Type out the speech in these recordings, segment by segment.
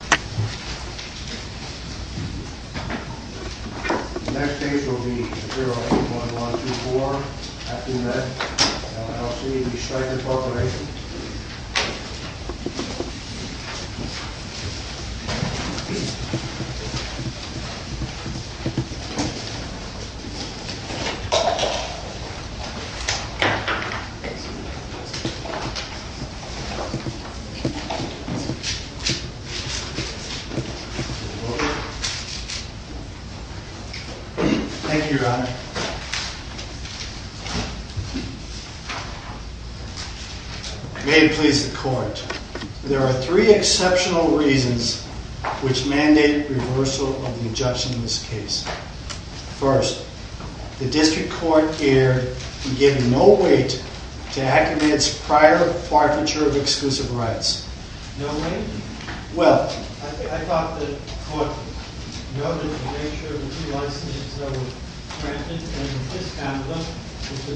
The next case will be 081124, after med, LLC, the Stryker Corporation. Thank you, Your Honor. May it please the Court, There are three exceptional reasons which mandate reversal of the injunction in this case. First, the District Court here gives no weight to Acmed's prior forfeiture of exclusive rights. No weight? Well, I thought the Court noted the nature of the two licenses that were granted and discounted them.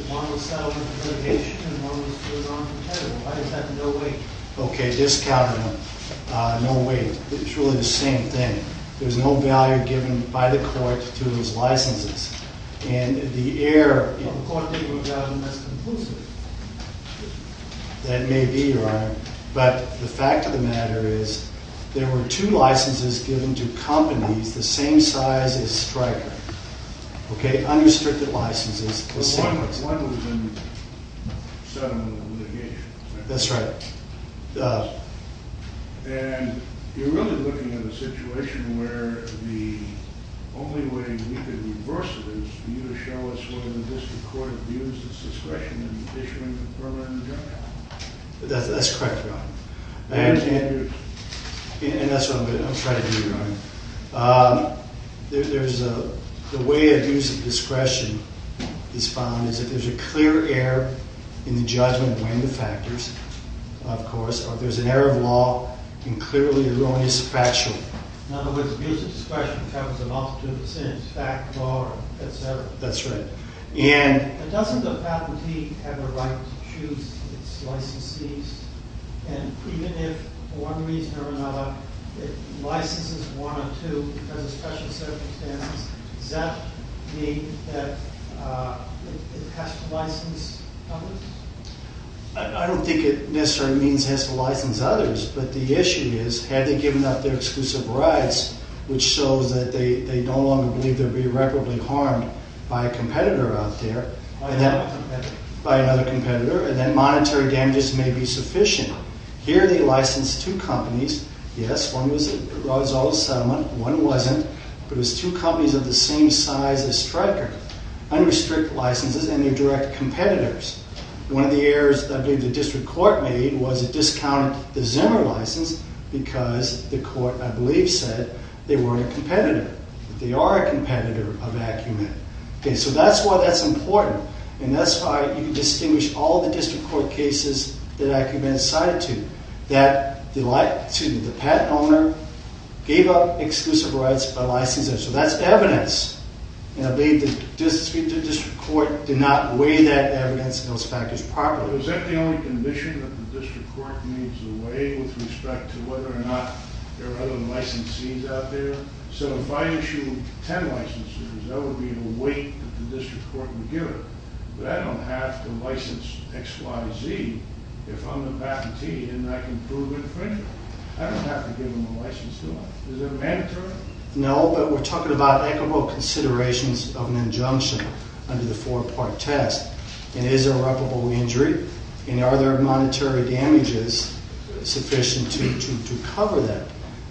One was settled in litigation and one was put on the table. Why is that no weight? Okay, discounted them. No weight. It's really the same thing. There's no value given by the Court to those licenses. And the error... The Court didn't regard them as conclusive. That may be, Your Honor. But the fact of the matter is there were two licenses given to companies the same size as Stryker. Okay? Unrestricted licenses. But one was in settlement litigation. That's right. And you're really looking at a situation where the only way we could reverse it is for you to show us whether the District Court views its discretion in issuing a permanent injunction. That's correct, Your Honor. And that's what I'm trying to do, Your Honor. The way abuse of discretion is found is that there's a clear error in the judgment weighing the factors, of course, or there's an error of law in clearly erroneous factual... In other words, abuse of discretion covers an offense to the sentence, fact, law, et cetera. That's right. But doesn't the patentee have a right to choose its licensees? And even if, for one reason or another, it licenses one or two because of special circumstances, does that mean that it has to license others? I don't think it necessarily means it has to license others. But the issue is, had they given up their exclusive rights, which shows that they no longer believe they'd be irreparably harmed by a competitor out there... By another competitor. By another competitor. And then monetary damages may be sufficient. Here, they licensed two companies. Yes, one was out of settlement. One wasn't. But it was two companies of the same size as Stryker. Unrestricted licenses, and they're direct competitors. One of the errors, I believe, the district court made was it discounted the Zimmer license because the court, I believe, said they weren't a competitor. They are a competitor of Acumen. Okay, so that's why that's important. And that's why you can distinguish all the district court cases that Acumen sided to. That the patent owner gave up exclusive rights by licensing. So that's evidence. And I believe the district court did not weigh that evidence in those factors properly. Is that the only condition that the district court gives away with respect to whether or not there are other licensees out there? So if I issue 10 licenses, that would be the weight that the district court would give. But I don't have to license XYZ if I'm the patentee and I can prove infringement. I don't have to give them a license, do I? Is that mandatory? No, but we're talking about equitable considerations of an injunction under the four-part test. And is there reputable injury? And are there monetary damages sufficient to cover that?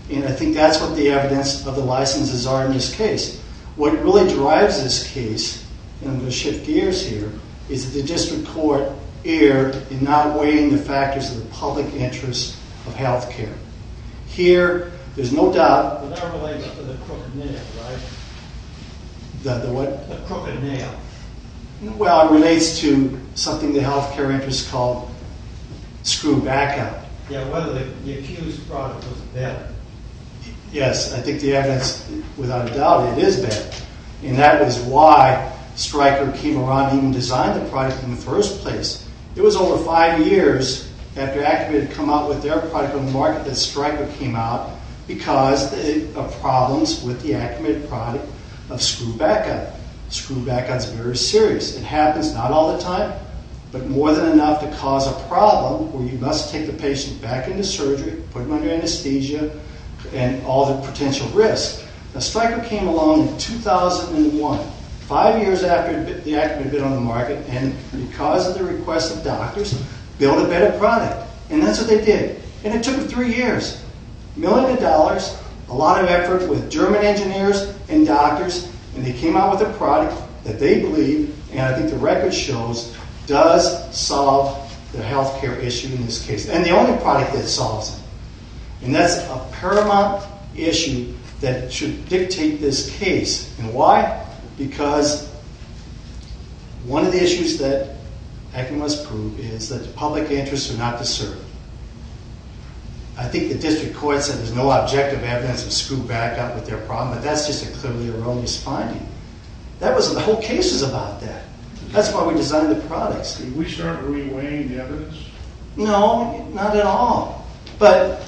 And I think that's what the evidence of the licenses are in this case. What really drives this case, and I'm going to shift gears here, is that the district court erred in not weighing the factors of the public interest of health care. Here, there's no doubt. But that relates to the crooked nail, right? The what? The crooked nail. Well, it relates to something the health care interest called screw back out. Yeah, whether the accused product was bad. Yes, I think the evidence, without a doubt, it is bad. And that is why Stryker came around and even designed the product in the first place. It was over five years after Acumen had come out with their product on the market that Stryker came out because of problems with the Acumen product of screw back out. Screw back out is very serious. It happens not all the time, but more than enough to cause a problem where you must take the patient back into surgery, put them under anesthesia, and all the potential risks. Now, Stryker came along in 2001, five years after the Acumen bid on the market, and because of the request of doctors, built a better product. And that's what they did. And it took three years, millions of dollars, a lot of effort with German engineers and doctors, and they came out with a product that they believe, and I think the record shows, does solve the health care issue in this case. And the only product that solves it. And that's a paramount issue that should dictate this case. And why? Because one of the issues that Acumen has proved is that the public interests are not to serve. I think the district court said there's no objective evidence of screw back out with their product, but that's just a clearly erroneous finding. The whole case is about that. That's why we designed the products. Did we start reweighing the evidence? No, not at all. But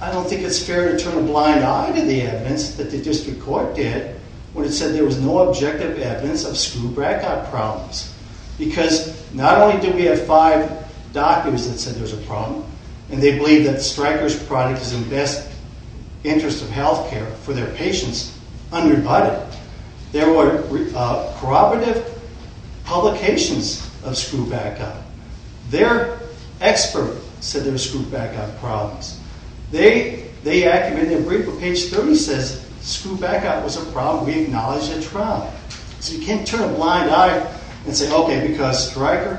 I don't think it's fair to turn a blind eye to the evidence that the district court did when it said there was no objective evidence of screw back out problems. Because not only do we have five doctors that said there's a problem, and they believe that Stryker's product is in the best interest of health care for their patients, unrebutted, there were corroborative publications of screw back out. Their expert said there were screw back out problems. They, Acumen, in their brief on page 30 says screw back out was a problem we acknowledged at trial. So you can't turn a blind eye and say, okay, because Stryker,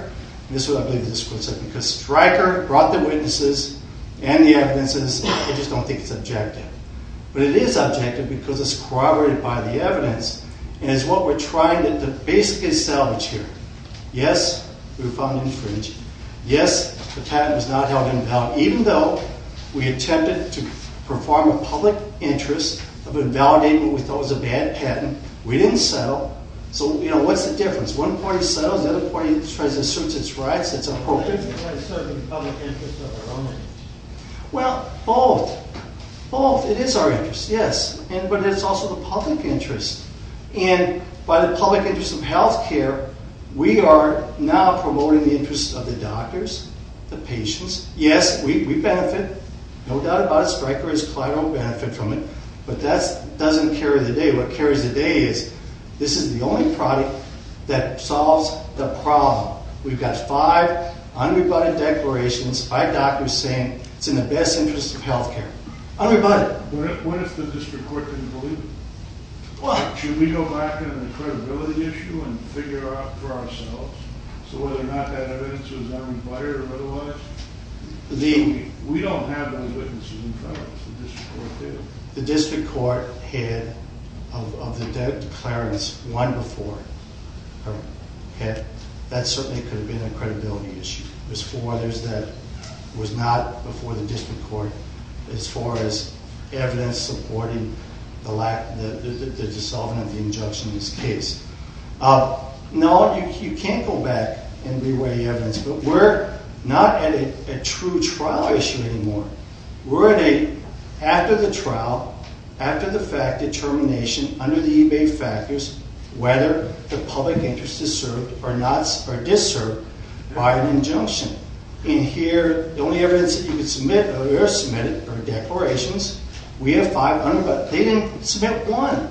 and this is what I believe the district court said, because Stryker brought the witnesses and the evidences, they just don't think it's objective. But it is objective because it's corroborated by the evidence, and it's what we're trying to basically salvage here. Yes, we were found infringed. Yes, the patent was not held invalid. Even though we attempted to perform a public interest of invalidating what we thought was a bad patent, we didn't settle. So, you know, what's the difference? One party settles, the other party tries to assert its rights. That's appropriate. But isn't that asserting the public interest of our own interest? Well, both. Both. It is our interest, yes. But it's also the public interest. And by the public interest of health care, we are now promoting the interest of the doctors, the patients. Yes, we benefit. No doubt about it. Stryker is collateral benefit from it. But that doesn't carry the day. What carries the day is this is the only product that solves the problem. We've got five unrebutted declarations, five doctors saying it's in the best interest of health care. Unrebutted. What if the district court didn't believe it? What? Should we go back to the credibility issue and figure it out for ourselves? So whether or not that evidence was unrebutted or otherwise? We don't have any witnesses in front of us. The district court did. The district court had, of the declarants, one before her head. That certainly could have been a credibility issue. There's four others that was not before the district court as far as evidence supporting the dissolving of the injunction in this case. No, you can't go back and reweigh evidence. But we're not at a true trial issue anymore. We're at a, after the trial, after the fact determination under the eBay factors whether the public interest is served or not or disserved by an injunction. And here, the only evidence that you can submit, or are submitted, are declarations. We have five unrebutted. They didn't submit one.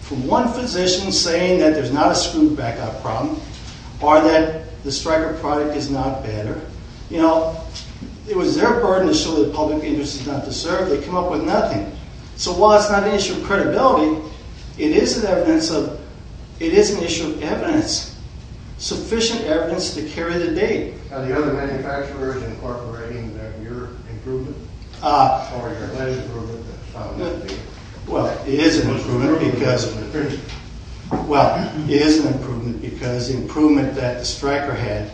From one physician saying that there's not a screwed back-up problem or that the Stryker product is not better. You know, it was their burden to show that the public interest is not deserved. They come up with nothing. So while it's not an issue of credibility, it is an issue of evidence, sufficient evidence to carry the date. Are the other manufacturers incorporating that in your improvement? Well, it is an improvement because, well, it is an improvement because the improvement that the Stryker had,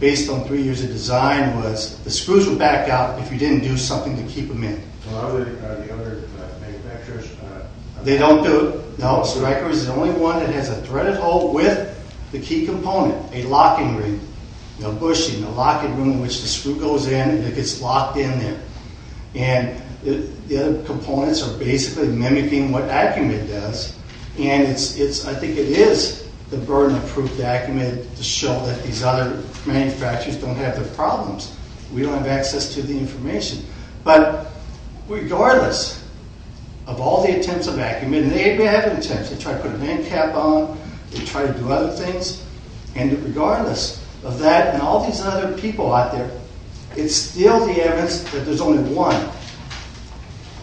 based on three years of design, was the screws would back out if you didn't do something to keep them in. Well, are the other manufacturers not? They don't do it, no. Stryker is the only one that has a threaded hole with the key component, a locking ring. You know, bushing, a locking ring in which the screw goes in and it gets locked in there. And the other components are basically mimicking what Acumit does. And I think it is the burden to prove to Acumit to show that these other manufacturers don't have their problems. We don't have access to the information. But regardless of all the attempts of Acumit, and they may have had attempts. They tried to put a man cap on. They tried to do other things. And regardless of that and all these other people out there, it's still the evidence that there's only one.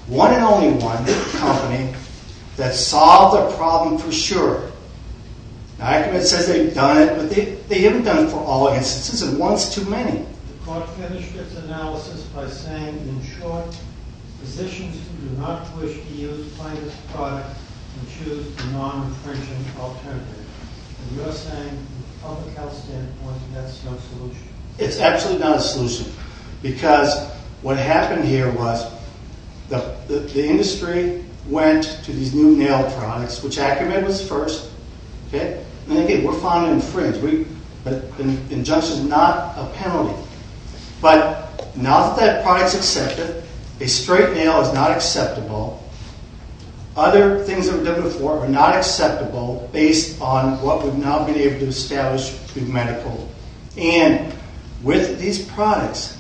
One and only one, this company, that solved the problem for sure. Now, Acumit says they've done it, but they haven't done it for all instances. And one's too many. The court finished its analysis by saying, in short, physicians who do not wish to use plant-based products can choose the non-infringing alternative. And you're saying, from a public health standpoint, that's no solution? It's absolutely not a solution. Because what happened here was the industry went to these new nail products, which Acumit was first. And again, we're fond of infringing. An injunction is not a penalty. But now that that product's accepted, a straight nail is not acceptable. Other things that were done before are not acceptable based on what we've now been able to establish through medical. And with these products,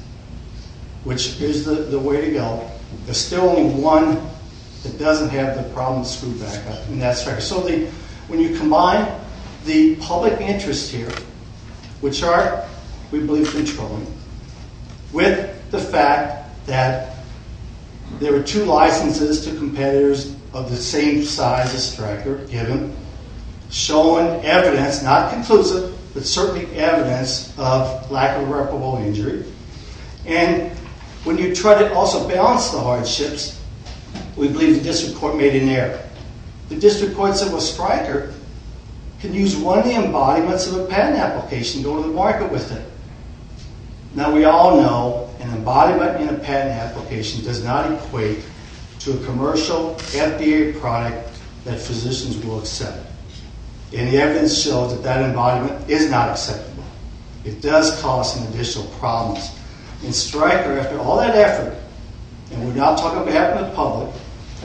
which is the way to go, there's still only one that doesn't have the problem of screwback. So when you combine the public interest here, which are, we believe, controlling, with the fact that there were two licenses to competitors of the same size as Stryker given, showing evidence, not conclusive, but certainly evidence of lack of reparable injury. And when you try to also balance the hardships, we believe the district court made an error. The district court said, well, Stryker can use one of the embodiments of a patent application and go to the market with it. Now, we all know an embodiment in a patent application does not equate to a commercial FDA product that physicians will accept. And the evidence shows that that embodiment is not acceptable. It does cause some additional problems. And Stryker, after all that effort, and we're now talking on behalf of the public,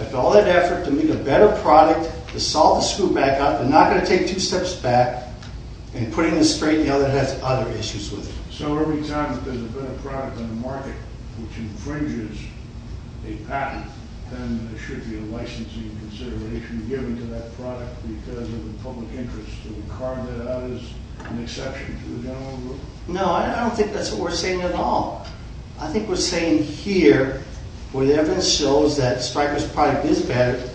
after all that effort to make a better product, to solve the screwback, they're not going to take two steps back and putting it straight now that it has other issues with it. So every time that there's a better product on the market, which infringes a patent, then there should be a licensing consideration given to that product because of the public interest. So we carve that out as an exception to the general rule? No, I don't think that's what we're saying at all. I think we're saying here, where the evidence shows that Stryker's product is better,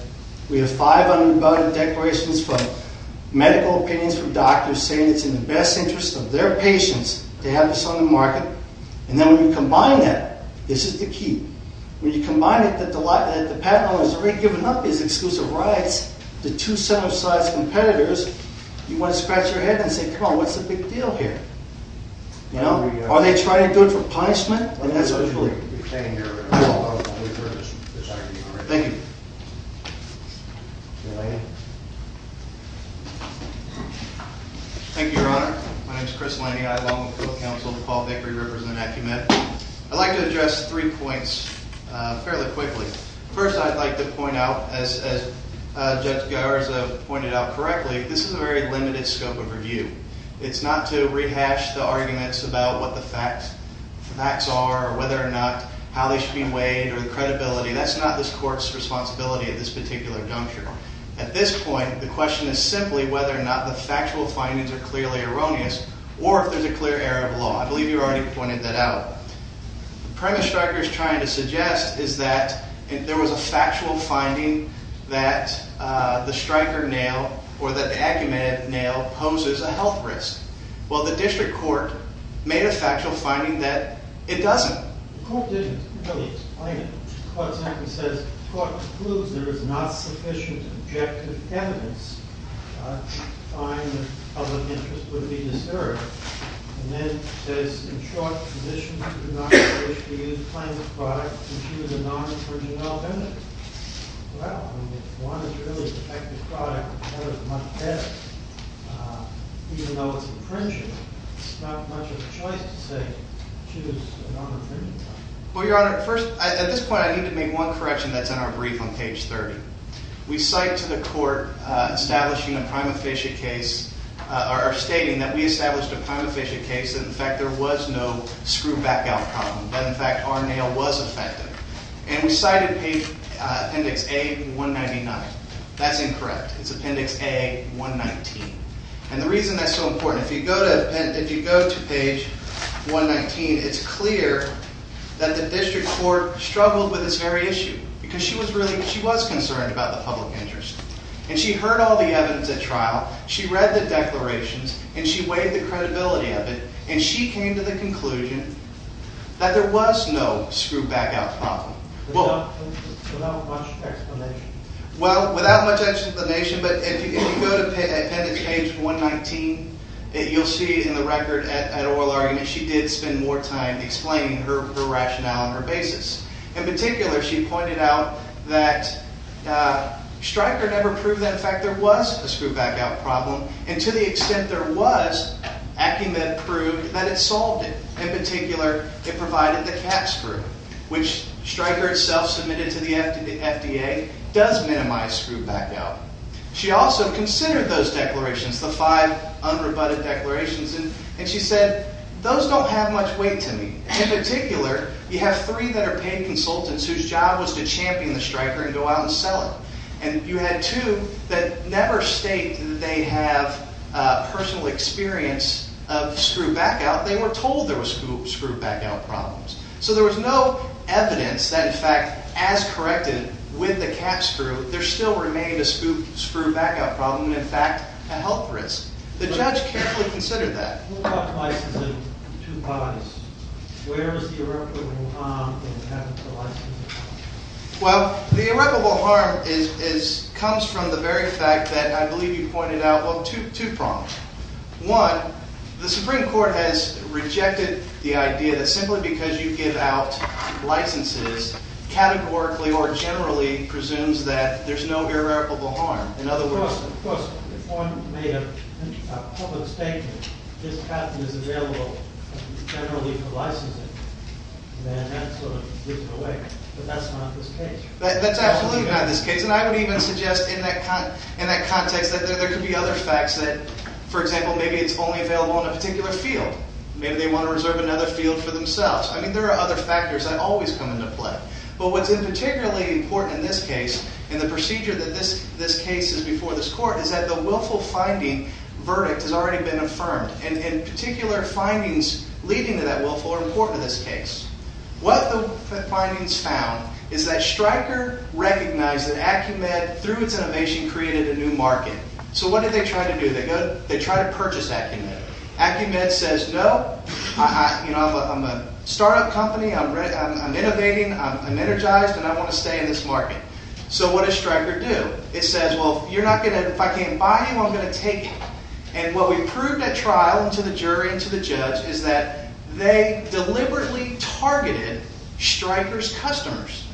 we have five unabated declarations from medical opinions from doctors saying it's in the best interest of their patients to have this on the market. And then when you combine that, this is the key, when you combine it that the patent owner has already given up his exclusive rights to two similar sized competitors, you want to scratch your head and say, come on, what's the big deal here? Are they trying to do it for punishment? That's what we're saying here. Thank you. Thank you, Your Honor. My name is Chris Laney. I belong with the Court of Counsel to Paul Bakery representing Acumet. I'd like to address three points fairly quickly. First, I'd like to point out, as Judge Garza pointed out correctly, this is a very limited scope of review. It's not to rehash the arguments about what the facts are or whether or not how they should be weighed or the credibility. That's not this court's responsibility at this particular juncture. At this point, the question is simply whether or not the factual findings are clearly erroneous or if there's a clear error of law. I believe you already pointed that out. The premise Stryker is trying to suggest is that there was a factual finding that the Stryker nail or that the Acumet nail poses a health risk. Well, the district court made a factual finding that it doesn't. The court didn't really explain it. The court simply says the court concludes there is not sufficient objective evidence to find that public interest would be disturbed. And then it says, in short, in addition to denomination, we use plaintiff's product to choose a non-infringing element. Well, I mean, if one is really a defective product, that is much better. Even though it's infringing, it's not much of a choice to say choose a non-infringing element. Well, Your Honor, first, at this point, I need to make one correction that's in our brief on page 30. We cite to the court establishing a prime officiate case or stating that we established a prime officiate case that, in fact, there was no screwback outcome. That, in fact, our nail was effective. And we cited page appendix A199. That's incorrect. It's appendix A119. And the reason that's so important, if you go to page 119, it's clear that the district court struggled with this very issue. Because she was concerned about the public interest. And she heard all the evidence at trial. She read the declarations. And she weighed the credibility of it. And she came to the conclusion that there was no screwback outcome. Without much explanation? Well, without much explanation, but if you go to appendix A119, you'll see in the record at oral argument, she did spend more time explaining her rationale and her basis. In particular, she pointed out that Stryker never proved that, in fact, there was a screwback outcome problem. And to the extent there was, Acumen proved that it solved it. In particular, it provided the cap screw, which Stryker itself submitted to the FDA does minimize screwback outcome. She also considered those declarations, the five unrebutted declarations. And she said, those don't have much weight to me. In particular, you have three that are paid consultants whose job was to champion the Stryker and go out and sell it. And you had two that never state that they have personal experience of screwback out. They were told there was screwback out problems. So there was no evidence that, in fact, as corrected with the cap screw, there still remained a screwback out problem and, in fact, a health risk. The judge carefully considered that. Who got licensed in two bodies? Where is the irreparable harm in having the license? Well, the irreparable harm comes from the very fact that I believe you pointed out two problems. One, the Supreme Court has rejected the idea that simply because you give out licenses, categorically or generally presumes that there's no irreparable harm. Of course, if one made a public statement, this patent is available generally for licensing, then that sort of gives it away. But that's not this case. That's absolutely not this case. And I would even suggest in that context that there could be other facts that, for example, maybe it's only available in a particular field. Maybe they want to reserve another field for themselves. I mean, there are other factors that always come into play. But what's particularly important in this case and the procedure that this case is before this court is that the willful finding verdict has already been affirmed. And particular findings leading to that willful are important in this case. What the findings found is that Stryker recognized that Acumed, through its innovation, created a new market. So what did they try to do? They tried to purchase Acumed. Acumed says, no, I'm a startup company, I'm innovating, I'm energized, and I want to stay in this market. So what does Stryker do? It says, well, if I can't buy you, I'm going to take you. And what we proved at trial and to the jury and to the judge is that they deliberately targeted Stryker's customers.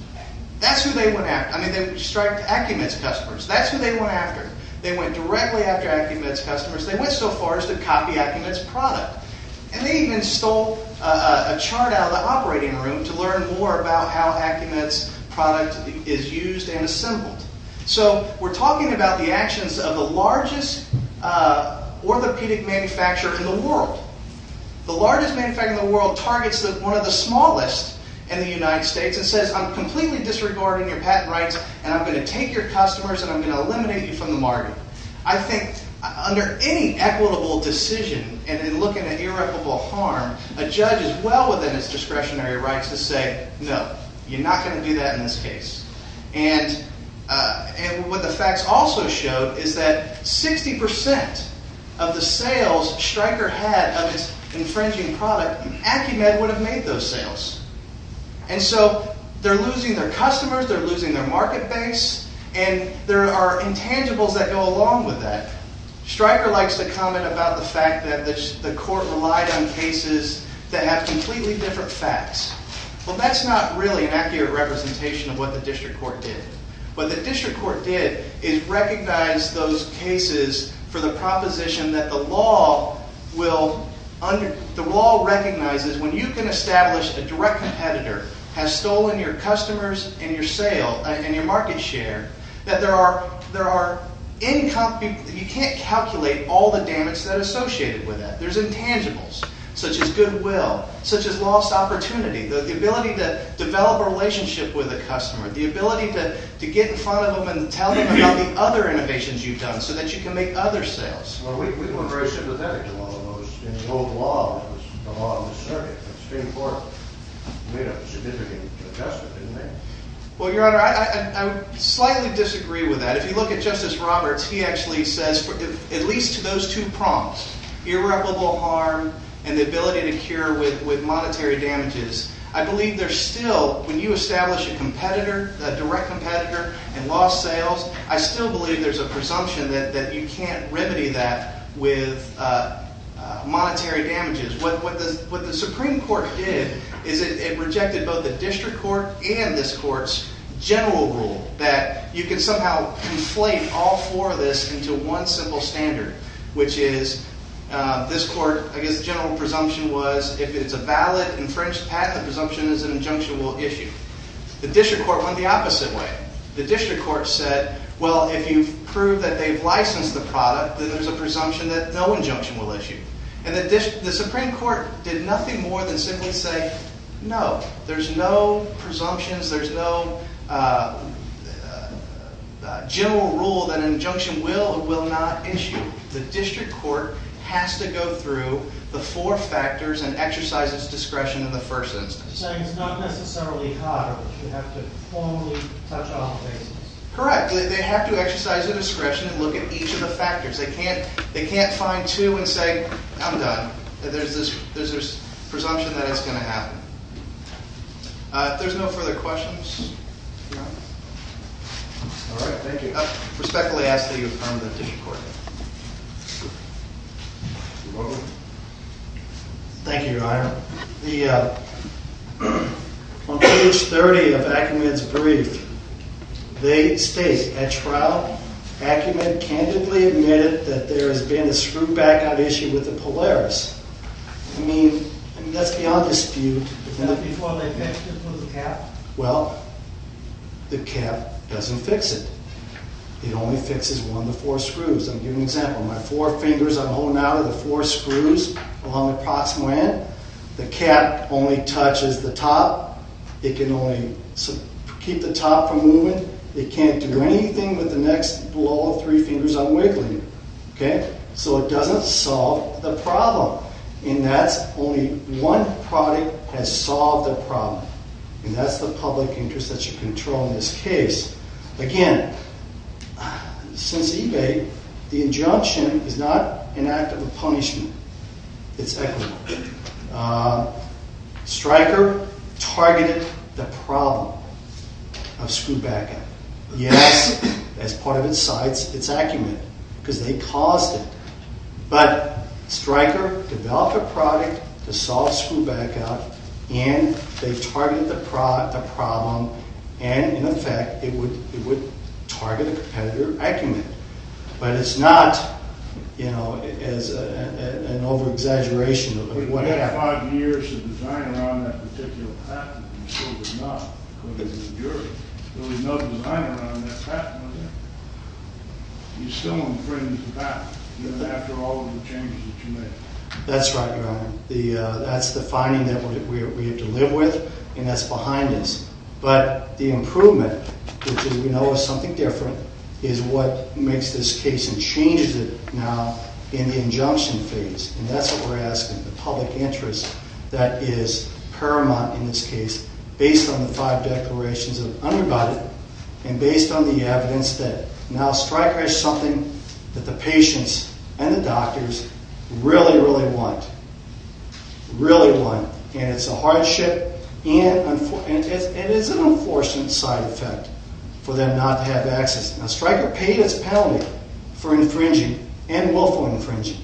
That's who they went after. I mean, they striked Acumed's customers. That's who they went after. They went directly after Acumed's customers. They went so far as to copy Acumed's product. And they even stole a chart out of the operating room to learn more about how Acumed's product is used and assembled. So we're talking about the actions of the largest orthopedic manufacturer in the world. The largest manufacturer in the world targets one of the smallest in the United States and says, I'm completely disregarding your patent rights and I'm going to take your customers and I'm going to eliminate you from the market. I think under any equitable decision and in looking at irreparable harm, a judge is well within his discretionary rights to say, no, you're not going to do that in this case. And what the facts also showed is that 60 percent of the sales Stryker had of its infringing product, Acumed would have made those sales. And so they're losing their customers. They're losing their market base. And there are intangibles that go along with that. Stryker likes to comment about the fact that the court relied on cases that have completely different facts. Well, that's not really an accurate representation of what the district court did. But the district court did is recognize those cases for the proposition that the law will under the law recognizes when you can establish a direct competitor has stolen your customers and your sale and your market share, that there are there are income. You can't calculate all the damage that associated with that. There's intangibles such as goodwill, such as lost opportunity. The ability to develop a relationship with a customer, the ability to get in front of them and tell them about the other innovations you've done so that you can make other sales. Well, we weren't very sympathetic to all of those in the old law. It was the law of the circuit. The Supreme Court made a significant adjustment, didn't they? Well, Your Honor, I slightly disagree with that. If you look at Justice Roberts, he actually says, at least to those two prompts, irreparable harm and the ability to cure with monetary damages. I believe there's still, when you establish a competitor, a direct competitor and lost sales, I still believe there's a presumption that you can't remedy that with monetary damages. What the Supreme Court did is it rejected both the district court and this court's general rule that you can somehow conflate all four of this into one simple standard, which is this court, I guess the general presumption was if it's a valid infringed patent, the presumption is an injunction will issue. The district court went the opposite way. The district court said, well, if you prove that they've licensed the product, then there's a presumption that no injunction will issue. And the Supreme Court did nothing more than simply say, no, there's no presumptions. There's no general rule that an injunction will or will not issue. The district court has to go through the four factors and exercise its discretion in the first instance. So it's not necessarily harder. You have to formally touch off basis. Correct. They have to exercise their discretion and look at each of the factors. They can't find two and say, I'm done. There's this presumption that it's going to happen. If there's no further questions. All right. Thank you. Respectfully ask that you affirm the district court. You're welcome. Thank you, Your Honor. On page 30 of Ackerman's brief, they state, at trial, Ackerman candidly admitted that there has been a screw back out issue with the Polaris. I mean, that's beyond dispute. But not before they fixed it with a cap. Well, the cap doesn't fix it. It only fixes one of the four screws. I'll give you an example. My four fingers I'm holding out of the four screws along the proximal end. The cap only touches the top. It can only keep the top from moving. It can't do anything with the next blow of three fingers I'm wiggling. Okay? So it doesn't solve the problem. And that's only one product has solved the problem. And that's the public interest that should control this case. Again, since eBay, the injunction is not an act of punishment. It's equitable. Stryker targeted the problem of screw back out. Yes, as part of its sites, it's accumulated because they caused it. But Stryker developed a product to solve screw back out. And they targeted the problem. And, in effect, it would target a competitor acumen. But it's not, you know, an over-exaggeration. You had five years of design around that particular patent. And you still did not. Because it was a jury. There was no design around that patent, was there? You're still infringing the patent. Even after all of the changes that you made. That's right, Your Honor. That's the finding that we have to live with. And that's behind us. But the improvement, which, as we know, is something different, is what makes this case and changes it now in the injunction phase. And that's what we're asking, the public interest that is paramount in this case. Based on the five declarations of underbody. And based on the evidence that now Stryker has something that the patients and the doctors really, really want. Really want. And it's a hardship. And it is an unfortunate side effect for them not to have access. Now, Stryker paid its penalty for infringing and willful infringing.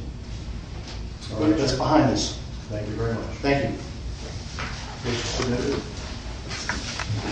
But that's behind us. Thank you very much. Thank you.